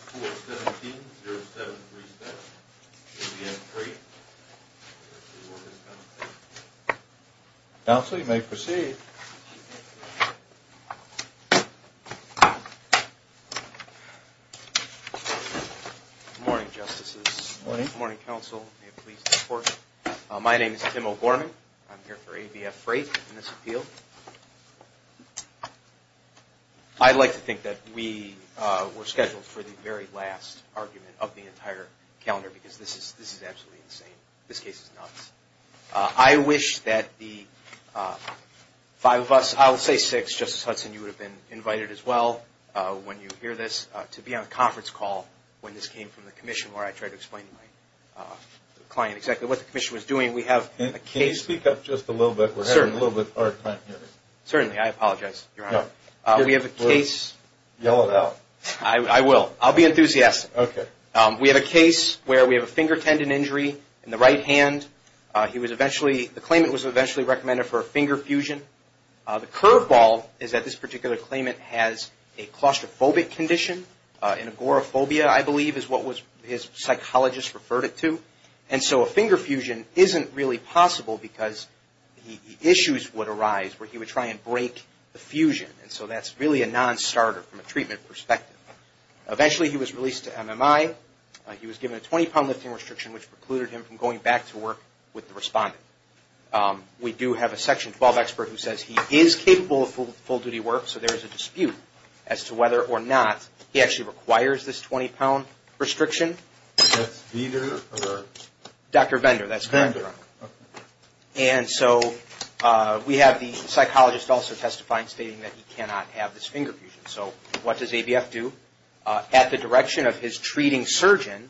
417-0737, ABF Freight. Counsel, you may proceed. Good morning, Justices. Good morning. Good morning, Counsel. May it please the Court. My name is Tim O'Gorman. I'm here for ABF Freight in this appeal. I'd like to think that we were scheduled for the very last argument of the entire calendar because this is absolutely insane. This case is nuts. I wish that the five of us, I'll say six, Justice Hudson, you would have been invited as well when you hear this, to be on a conference call when this came from the Commission where I tried to explain to my client exactly what the Commission was doing. Can you speak up just a little bit? We're having a little bit of a hard time hearing you. Certainly. I apologize, Your Honor. We have a case... Yell it out. I will. I'll be enthusiastic. Okay. We have a case where we have a finger tendon injury in the right hand. The claimant was eventually recommended for a finger fusion. The curveball is that this particular claimant has a claustrophobic condition. An agoraphobia, I believe, is what his psychologist referred it to. A finger fusion isn't really possible because issues would arise where he would try and break the fusion. That's really a non-starter from a treatment perspective. Eventually, he was released to MMI. He was given a 20-pound lifting restriction, which precluded him from going back to work with the respondent. We do have a Section 12 expert who says he is capable of full-duty work, so there is a dispute as to whether or not he actually requires this 20-pound restriction. That's Vender? Dr. Vender. That's Vender. Okay. And so we have the psychologist also testifying, stating that he cannot have this finger fusion. So what does ABF do? At the direction of his treating surgeon,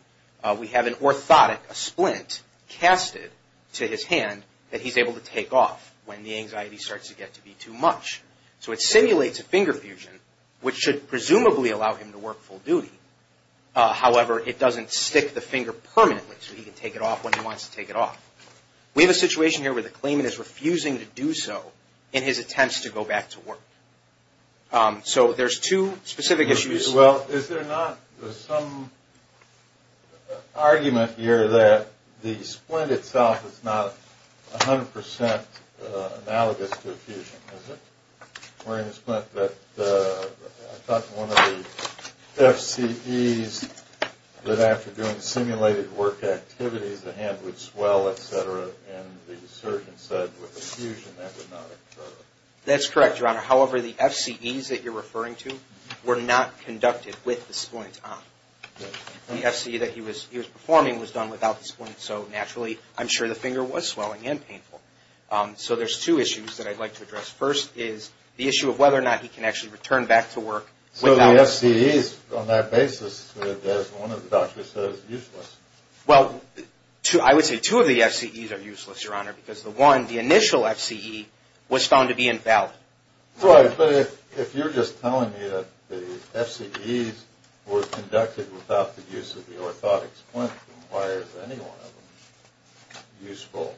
we have an orthotic, a splint, casted to his hand that he's able to take off when the anxiety starts to get to be too much. So it simulates a finger fusion, which should presumably allow him to work full duty. However, it doesn't stick the finger permanently, so he can take it off when he wants to take it off. We have a situation here where the claimant is refusing to do so in his attempts to go back to work. So there's two specific issues. Well, is there not some argument here that the splint itself is not 100 percent analogous to a fusion, is it? I thought one of the FCEs that after doing simulated work activities, the hand would swell, et cetera, and the surgeon said with a fusion that would not occur. That's correct, Your Honor. However, the FCEs that you're referring to were not conducted with the splint on. The FCE that he was performing was done without the splint, so naturally I'm sure the finger was swelling and painful. The issue of whether or not he can actually return back to work. So the FCEs on that basis, as one of the doctors said, is useless. Well, I would say two of the FCEs are useless, Your Honor, because the one, the initial FCE, was found to be invalid. Right, but if you're just telling me that the FCEs were conducted without the use of the orthotic splint, then why is any one of them useful?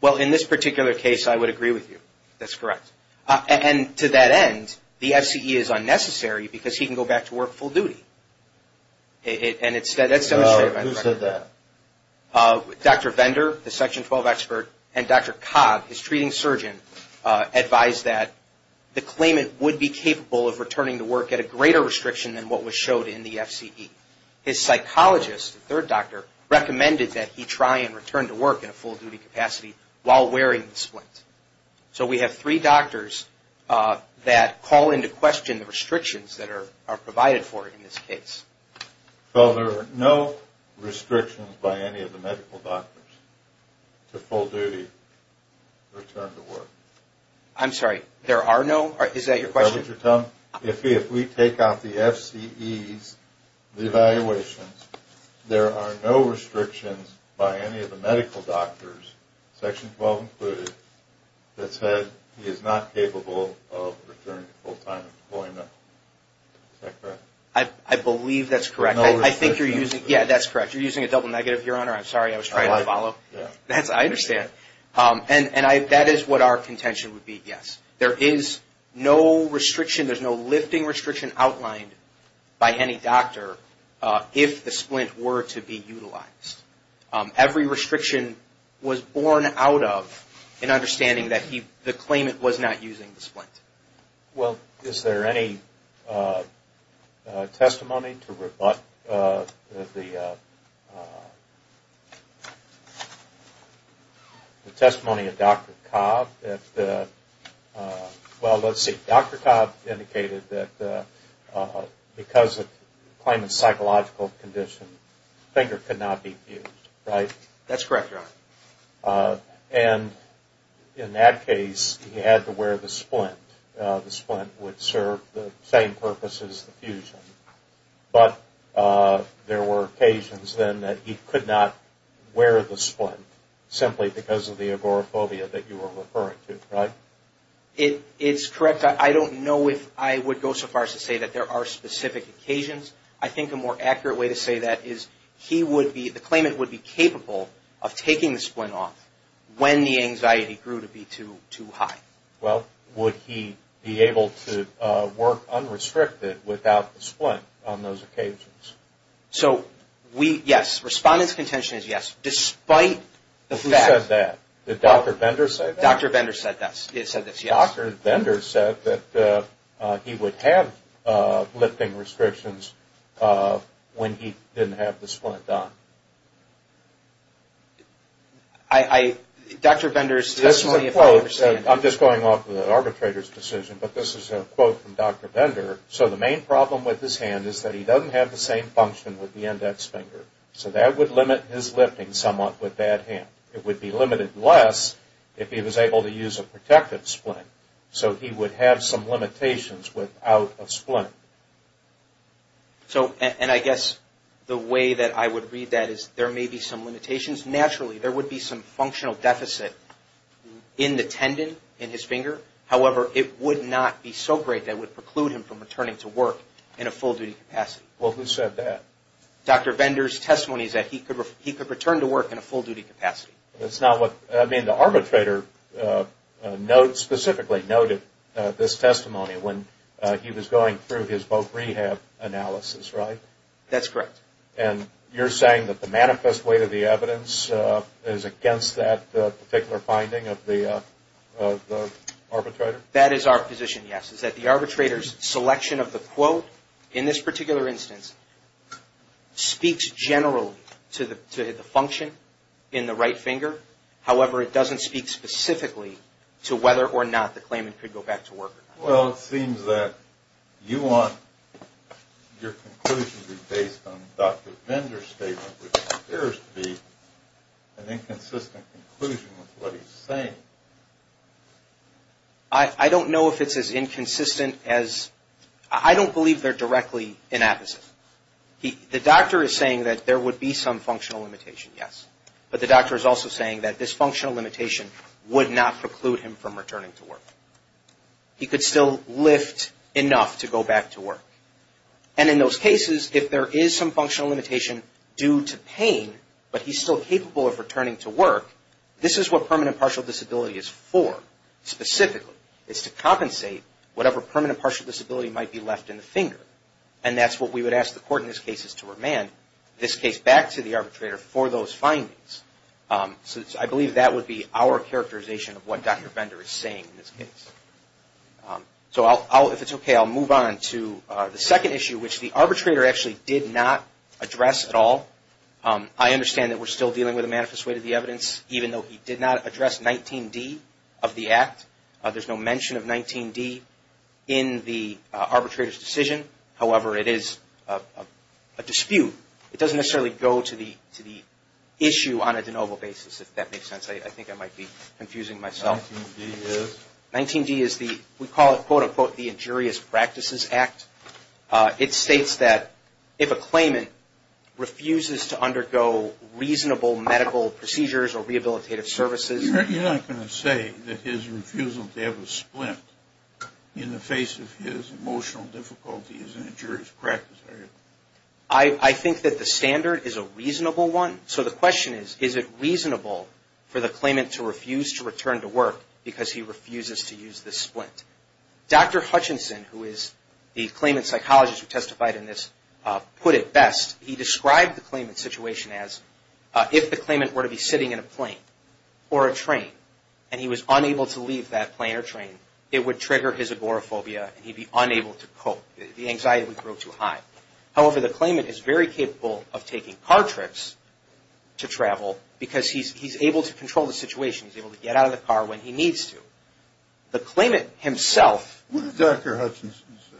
Well, in this particular case, I would agree with you. That's correct. And to that end, the FCE is unnecessary because he can go back to work full duty. And that's demonstrated by the record. Who said that? Dr. Vendor, the Section 12 expert, and Dr. Cobb, his treating surgeon, advised that the claimant would be capable of returning to work at a greater restriction than what was showed in the FCE. His psychologist, the third doctor, recommended that he try and return to work in a full duty capacity while wearing the splint. So we have three doctors that call into question the restrictions that are provided for in this case. Well, there are no restrictions by any of the medical doctors to full duty return to work. I'm sorry, there are no? Is that your question? If we take out the FCEs, the evaluations, there are no restrictions by any of the medical doctors, Section 12 included, that said he is not capable of returning to full time employment. Is that correct? I believe that's correct. I think you're using, yeah, that's correct. You're using a double negative, Your Honor. I'm sorry, I was trying to follow. I understand. And that is what our contention would be, yes. There is no restriction, there's no lifting restriction outlined by any doctor if the splint were to be utilized. Every restriction was born out of an understanding that the claimant was not using the splint. Well, is there any testimony to rebut the testimony of Dr. Cobb? Well, let's see, Dr. Cobb indicated that because the claimant's psychological condition, the finger could not be fused, right? That's correct, Your Honor. And in that case, he had to wear the splint. The splint would serve the same purpose as the fusion. But there were occasions then that he could not wear the splint simply because of the agoraphobia that you were referring to, right? It's correct. I don't know if I would go so far as to say that there are specific occasions. I think a more accurate way to say that is the claimant would be capable of taking the splint off when the anxiety grew to be too high. Well, would he be able to work unrestricted without the splint on those occasions? So, yes. Respondent's contention is yes, despite the fact. Who said that? Did Dr. Bender say that? Dr. Bender said this, yes. Dr. Bender said that he would have lifting restrictions when he didn't have the splint on. Dr. Bender's testimony, if I understand. I'm just going off of the arbitrator's decision, but this is a quote from Dr. Bender. So, the main problem with his hand is that he doesn't have the same function with the index finger. So, that would limit his lifting somewhat with that hand. It would be limited less if he was able to use a protective splint. So, he would have some limitations without a splint. So, and I guess the way that I would read that is there may be some limitations. Naturally, there would be some functional deficit in the tendon in his finger. However, it would not be so great that it would preclude him from returning to work in a full-duty capacity. Well, who said that? Dr. Bender's testimony is that he could return to work in a full-duty capacity. I mean, the arbitrator specifically noted this testimony when he was going through his boat rehab analysis, right? That's correct. And you're saying that the manifest weight of the evidence is against that particular finding of the arbitrator? That is our position, yes. What I'm saying is that the arbitrator's selection of the quote in this particular instance speaks generally to the function in the right finger. However, it doesn't speak specifically to whether or not the claimant could go back to work. Well, it seems that you want your conclusion to be based on Dr. Bender's statement, which appears to be an inconsistent conclusion with what he's saying. I don't know if it's as inconsistent as – I don't believe they're directly inapposite. The doctor is saying that there would be some functional limitation, yes. But the doctor is also saying that this functional limitation would not preclude him from returning to work. He could still lift enough to go back to work. And in those cases, if there is some functional limitation due to pain, but he's still capable of returning to work, this is what permanent partial disability is for, specifically. It's to compensate whatever permanent partial disability might be left in the finger. And that's what we would ask the court in this case is to remand this case back to the arbitrator for those findings. So I believe that would be our characterization of what Dr. Bender is saying in this case. So if it's okay, I'll move on to the second issue, which the arbitrator actually did not address at all. I understand that we're still dealing with a manifest way to the evidence, even though he did not address 19D of the act. There's no mention of 19D in the arbitrator's decision. However, it is a dispute. It doesn't necessarily go to the issue on a de novo basis, if that makes sense. I think I might be confusing myself. 19D is? 19D is the – we call it, quote, unquote, the injurious practices act. It states that if a claimant refuses to undergo reasonable medical procedures or rehabilitative services – You're not going to say that his refusal to have a splint in the face of his emotional difficulties is an injurious practice, are you? I think that the standard is a reasonable one. So the question is, is it reasonable for the claimant to refuse to return to work because he refuses to use this splint? Dr. Hutchinson, who is the claimant psychologist who testified in this, put it best. He described the claimant's situation as if the claimant were to be sitting in a plane or a train and he was unable to leave that plane or train, it would trigger his agoraphobia and he'd be unable to cope. The anxiety would grow too high. However, the claimant is very capable of taking car trips to travel because he's able to control the situation. He's able to get out of the car when he needs to. The claimant himself – What did Dr. Hutchinson say?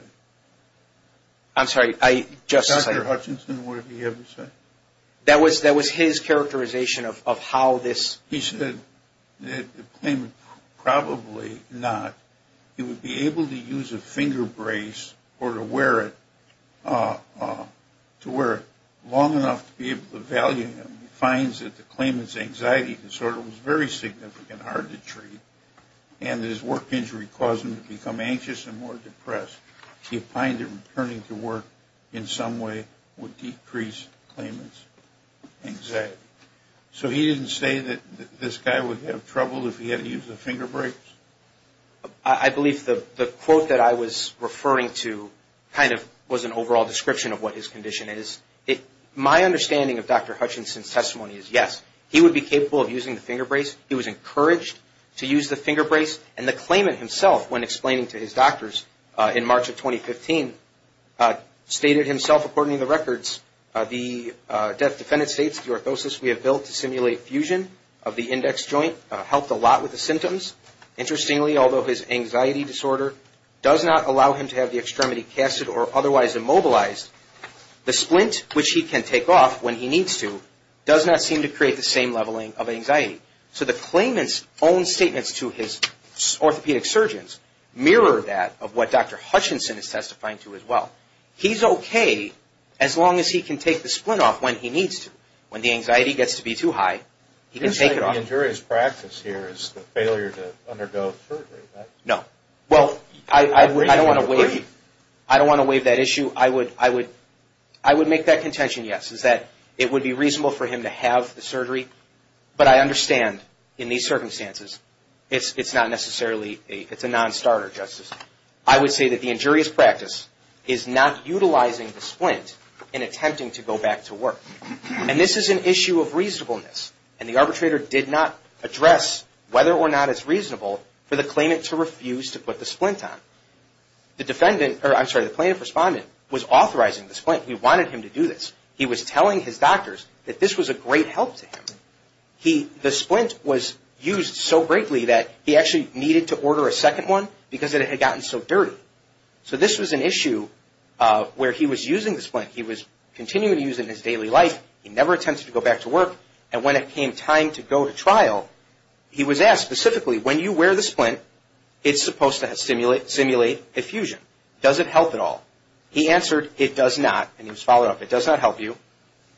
I'm sorry, I just said – Dr. Hutchinson, what did he ever say? That was his characterization of how this – He said that the claimant, probably not, he would be able to use a finger brace or to wear it long enough to be able to value him. He finds that the claimant's anxiety disorder was very significant, hard to treat, and his work injury caused him to become anxious and more depressed. He finds that returning to work in some way would decrease the claimant's anxiety. So he didn't say that this guy would have trouble if he had to use the finger brace? I believe the quote that I was referring to kind of was an overall description of what his condition is. My understanding of Dr. Hutchinson's testimony is yes, he would be capable of using the finger brace. He was encouraged to use the finger brace. And the claimant himself, when explaining to his doctors in March of 2015, stated himself, according to the records, the death defendant states the orthosis we have built to simulate fusion of the index joint helped a lot with the symptoms. Interestingly, although his anxiety disorder does not allow him to have the extremity casted or otherwise immobilized, the splint, which he can take off when he needs to, does not seem to create the same leveling of anxiety. So the claimant's own statements to his orthopedic surgeons mirror that of what Dr. Hutchinson is testifying to as well. He's okay as long as he can take the splint off when he needs to. When the anxiety gets to be too high, he can take it off. You're saying the injurious practice here is the failure to undergo surgery? No. Well, I don't want to waive that issue. I would make that contention, yes, is that it would be reasonable for him to have the surgery. But I understand, in these circumstances, it's a non-starter, Justice. I would say that the injurious practice is not utilizing the splint in attempting to go back to work. And this is an issue of reasonableness. And the arbitrator did not address whether or not it's reasonable for the claimant to refuse to put the splint on. The plaintiff respondent was authorizing the splint. He wanted him to do this. He was telling his doctors that this was a great help to him. The splint was used so greatly that he actually needed to order a second one because it had gotten so dirty. So this was an issue where he was using the splint. He was continuing to use it in his daily life. He never attempted to go back to work. And when it came time to go to trial, he was asked specifically, when you wear the splint, it's supposed to simulate effusion. Does it help at all? He answered, it does not. And he was followed up, it does not help you.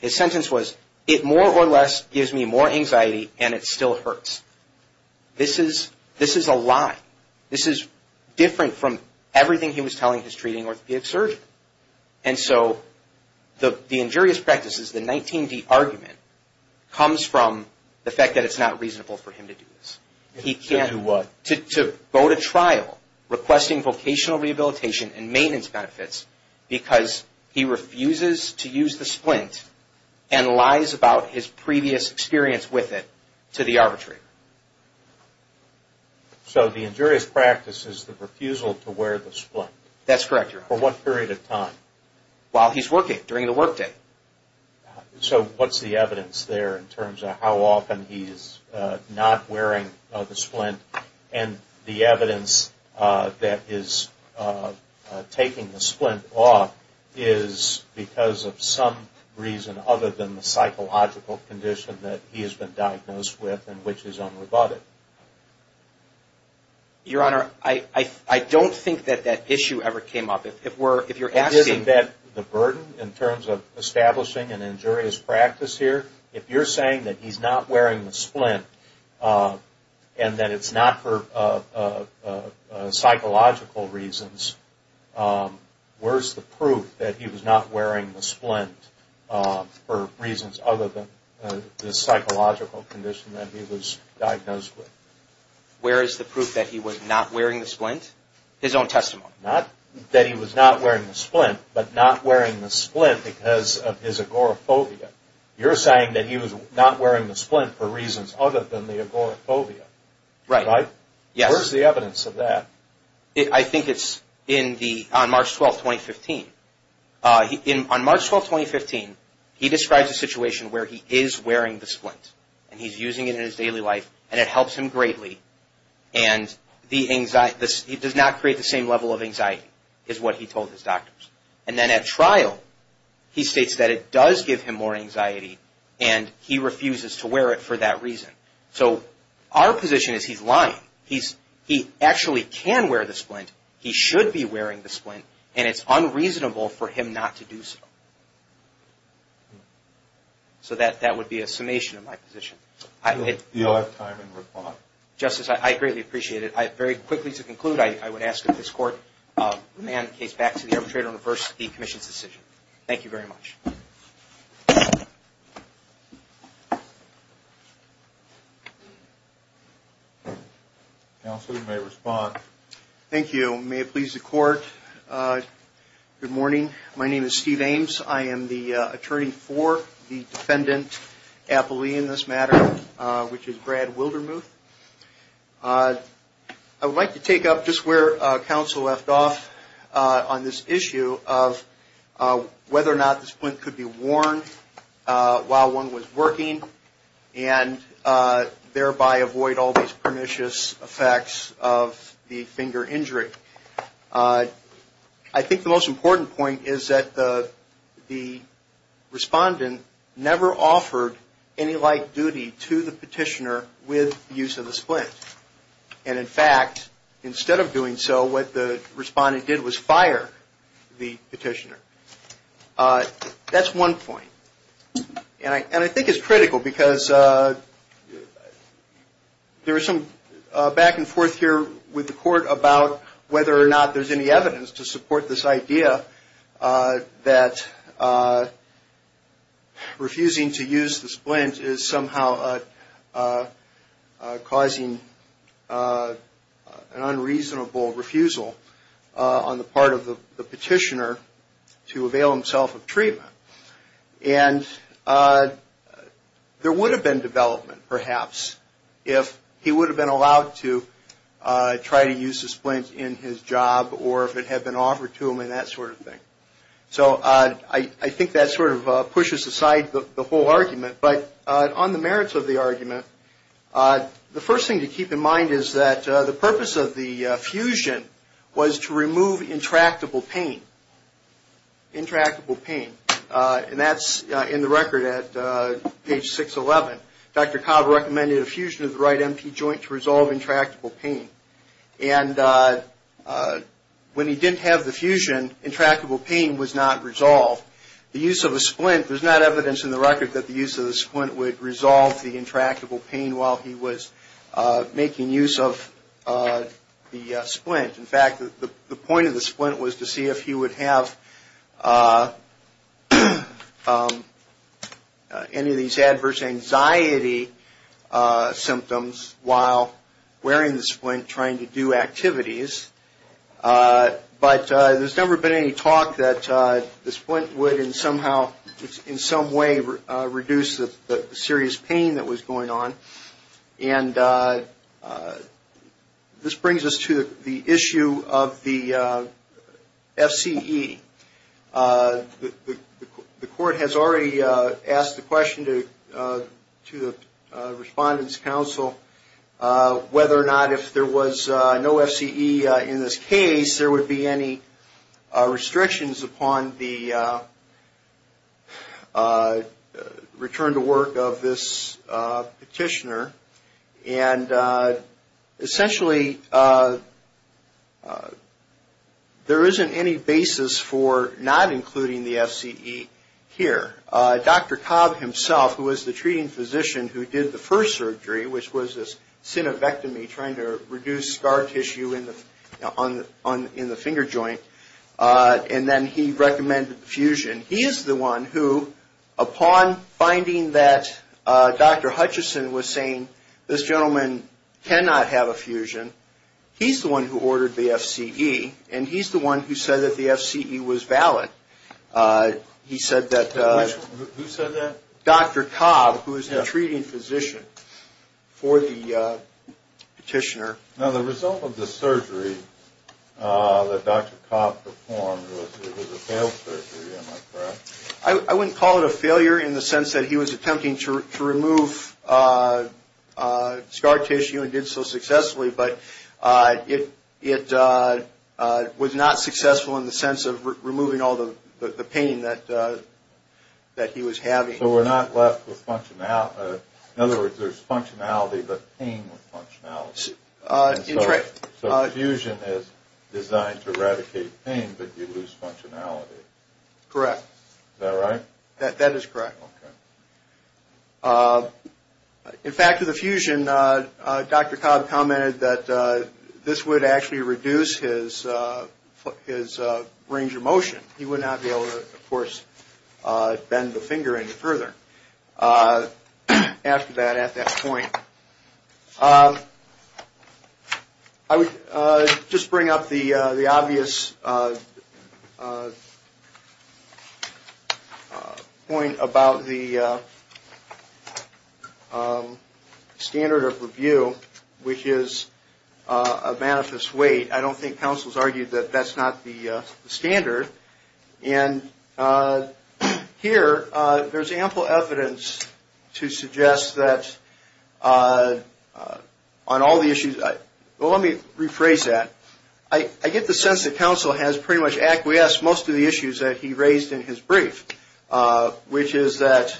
His sentence was, it more or less gives me more anxiety and it still hurts. This is a lie. This is different from everything he was telling his treating orthopedic surgeon. And so the injurious practice is the 19D argument comes from the fact that it's not reasonable for him to do this. To do what? To go to trial requesting vocational rehabilitation and maintenance benefits because he refuses to use the splint and lies about his previous experience with it to the arbitrator. So the injurious practice is the refusal to wear the splint. That's correct, Your Honor. For what period of time? While he's working, during the work day. So what's the evidence there in terms of how often he's not wearing the splint? And the evidence that is taking the splint off is because of some reason other than the psychological condition that he has been diagnosed with and which is unrebutted. Your Honor, I don't think that that issue ever came up. Isn't that the burden in terms of establishing an injurious practice here? If you're saying that he's not wearing the splint and that it's not for psychological reasons, where's the proof that he was not wearing the splint for reasons other than the psychological condition that he was diagnosed with? Where is the proof that he was not wearing the splint? His own testimony. Not that he was not wearing the splint, but not wearing the splint because of his agoraphobia. You're saying that he was not wearing the splint for reasons other than the agoraphobia. Right. Where's the evidence of that? I think it's on March 12, 2015. On March 12, 2015, he describes a situation where he is wearing the splint and he's using it in his daily life and it helps him greatly and it does not create the same level of anxiety, is what he told his doctors. And then at trial, he states that it does give him more anxiety and he refuses to wear it for that reason. So our position is he's lying. He actually can wear the splint. He should be wearing the splint and it's unreasonable for him not to do so. So that would be a summation of my position. You'll have time to respond. Justice, I greatly appreciate it. Very quickly to conclude, I would ask that this Court demand the case back to the arbitrator and reverse the Commission's decision. Thank you very much. Counsel, you may respond. Thank you. May it please the Court. Good morning. My name is Steve Ames. I am the attorney for the defendant appellee in this matter, which is Brad Wildermuth. I would like to take up just where Counsel left off on this issue of whether or not the splint could be worn while one was working and thereby avoid all these pernicious effects of the finger injury. I think the most important point is that the respondent never offered any light duty to the petitioner with use of the splint. And in fact, instead of doing so, what the respondent did was fire the petitioner. That's one point. And I think it's critical because there is some back and forth here with the Court about whether or not there's any evidence to support this idea that refusing to use the splint is somehow causing an unreasonable refusal on the part of the petitioner to avail himself of treatment. And there would have been development, perhaps, if he would have been allowed to try to use the splint in his job or if it had been offered to him and that sort of thing. So I think that sort of pushes aside the whole argument. But on the merits of the argument, the first thing to keep in mind is that the purpose of the fusion was to remove intractable pain. Intractable pain. And that's in the record at page 611. Dr. Cobb recommended a fusion of the right empty joint to resolve intractable pain. And when he didn't have the fusion, intractable pain was not resolved. The use of a splint, there's not evidence in the record that the use of the splint would resolve the intractable pain while he was making use of the splint. In fact, the point of the splint was to see if he would have any of these adverse anxiety symptoms while wearing the splint trying to do activities. But there's never been any talk that the splint would in some way reduce the serious pain that was going on. And this brings us to the issue of the FCE. The court has already asked the question to the Respondents' Council whether or not if there was no FCE in this case, there would be any restrictions upon the return to work of this petitioner. And essentially, there isn't any basis for not including the FCE here. Dr. Cobb himself, who was the treating physician who did the first surgery, which was a synovectomy trying to reduce scar tissue in the finger joint, and then he recommended the fusion. He is the one who, upon finding that Dr. Hutchison was saying this gentleman cannot have a fusion, he's the one who ordered the FCE, and he's the one who said that the FCE was valid. He said that Dr. Cobb, who is the treating physician for the petitioner... I wouldn't call it a failure in the sense that he was attempting to remove scar tissue and did so successfully, but it was not successful in the sense of removing all the pain that he was having. So we're not left with functionality. In other words, there's functionality but pain with functionality. That's right. So fusion is designed to eradicate pain, but you lose functionality. Correct. Is that right? That is correct. Okay. In fact, with the fusion, Dr. Cobb commented that this would actually reduce his range of motion. He would not be able to, of course, bend the finger any further after that, at that point. I would just bring up the obvious point about the standard of review, which is a manifest weight. I don't think counsel's argued that that's not the standard. And here there's ample evidence to suggest that on all the issues... Well, let me rephrase that. I get the sense that counsel has pretty much acquiesced most of the issues that he raised in his brief, which is that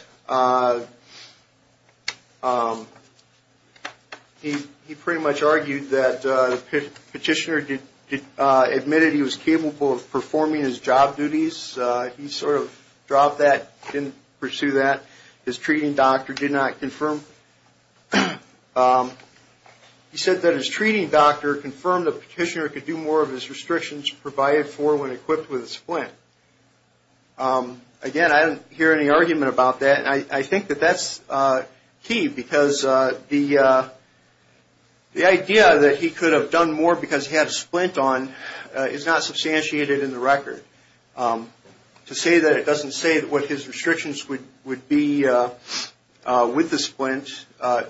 he pretty much argued that the petitioner admitted he was capable of performing his job duties. He sort of dropped that, didn't pursue that. His treating doctor did not confirm. He said that his treating doctor confirmed the petitioner could do more of his restrictions provided for when equipped with a splint. Again, I didn't hear any argument about that. And I think that that's key because the idea that he could have done more because he had a splint on is not substantiated in the record. To say that it doesn't say what his restrictions would be with the splint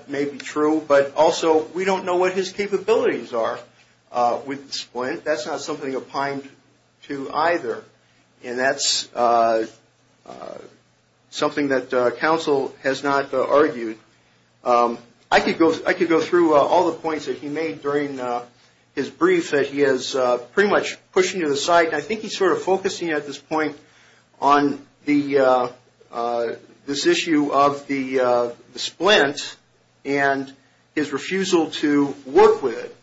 may be true, but also we don't know what his capabilities are with the splint. That's not something opined to either, and that's something that counsel has not argued. I could go through all the points that he made during his brief that he is pretty much pushing to the side. I think he's sort of focusing at this point on this issue of the splint and his refusal to work with it.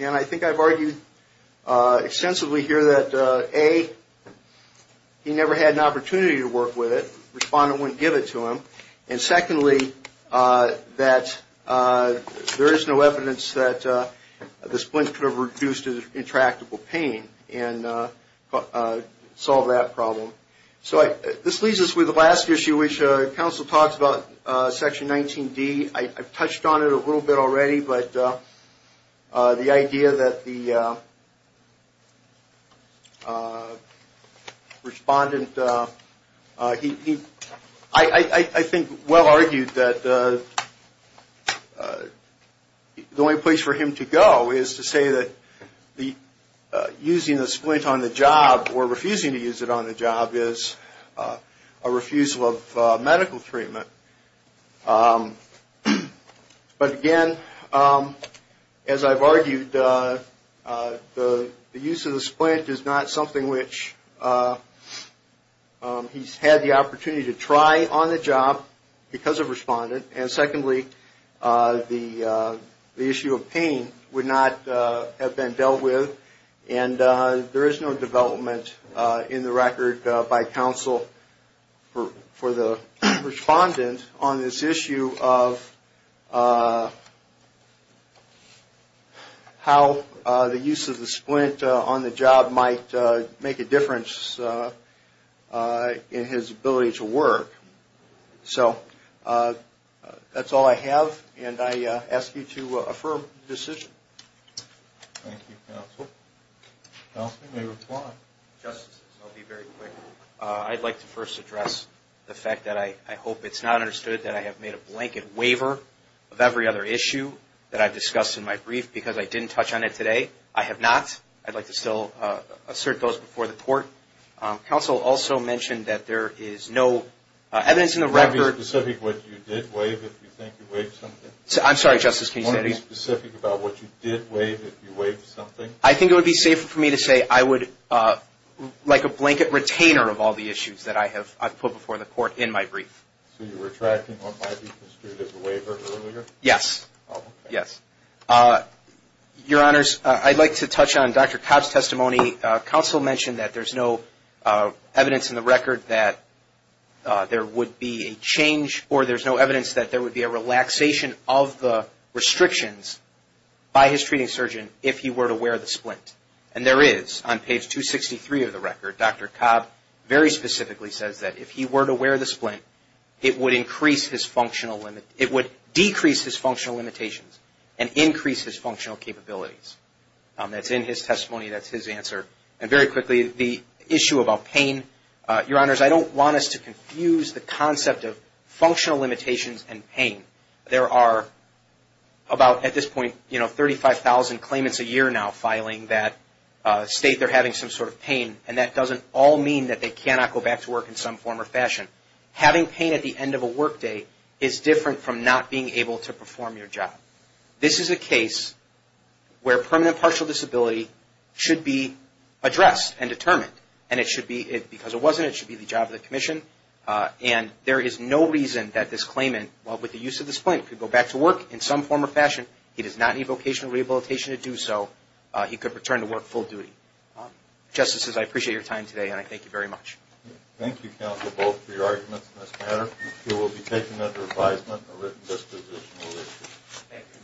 And I think I've argued extensively here that, A, he never had an opportunity to work with it. Respondent wouldn't give it to him. And, secondly, that there is no evidence that the splint could have reduced his intractable pain and solved that problem. So this leaves us with the last issue, which counsel talks about, Section 19D. I've touched on it a little bit already, but the idea that the respondent – I think well argued that the only place for him to go is to say that using the splint on the job is a refusal of medical treatment. But, again, as I've argued, the use of the splint is not something which he's had the opportunity to try on the job because of respondent. And, secondly, the issue of pain would not have been dealt with. And there is no development in the record by counsel for the respondent on this issue of how the use of the splint on the job might make a difference in his ability to work. So that's all I have, and I ask you to affirm the decision. Thank you, counsel. Counsel, you may reply. Justice, I'll be very quick. I'd like to first address the fact that I hope it's not understood that I have made a blanket waiver of every other issue that I've discussed in my brief because I didn't touch on it today. I have not. I'd like to still assert those before the court. Counsel also mentioned that there is no evidence in the record – Can you be specific what you did waive if you think you waived something? I'm sorry, Justice, can you say that again? Can you be specific about what you did waive if you waived something? I think it would be safer for me to say I would – like a blanket retainer of all the issues that I've put before the court in my brief. So you're retracting what might be construed as a waiver earlier? Yes. Oh, okay. Yes. Your Honors, I'd like to touch on Dr. Cobb's testimony. Counsel mentioned that there's no evidence in the record that there would be a change or there's no evidence that there would be a relaxation of the restrictions by his treating surgeon if he were to wear the splint. And there is on page 263 of the record. Dr. Cobb very specifically says that if he were to wear the splint, it would decrease his functional limitations and increase his functional capabilities. That's in his testimony. That's his answer. And very quickly, the issue about pain, Your Honors, I don't want us to confuse the concept of functional limitations and pain. There are about at this point, you know, 35,000 claimants a year now filing that state they're having some sort of pain, and that doesn't all mean that they cannot go back to work in some form or fashion. Having pain at the end of a workday is different from not being able to perform your job. This is a case where permanent partial disability should be addressed and determined, and it should be, because it wasn't, it should be the job of the commission. And there is no reason that this claimant, well, with the use of the splint, could go back to work in some form or fashion. He does not need vocational rehabilitation to do so. He could return to work full duty. Justices, I appreciate your time today, and I thank you very much. Thank you, counsel, both for your arguments in this matter. This case will be taken under advisement and a written disposition will be issued. Thank you.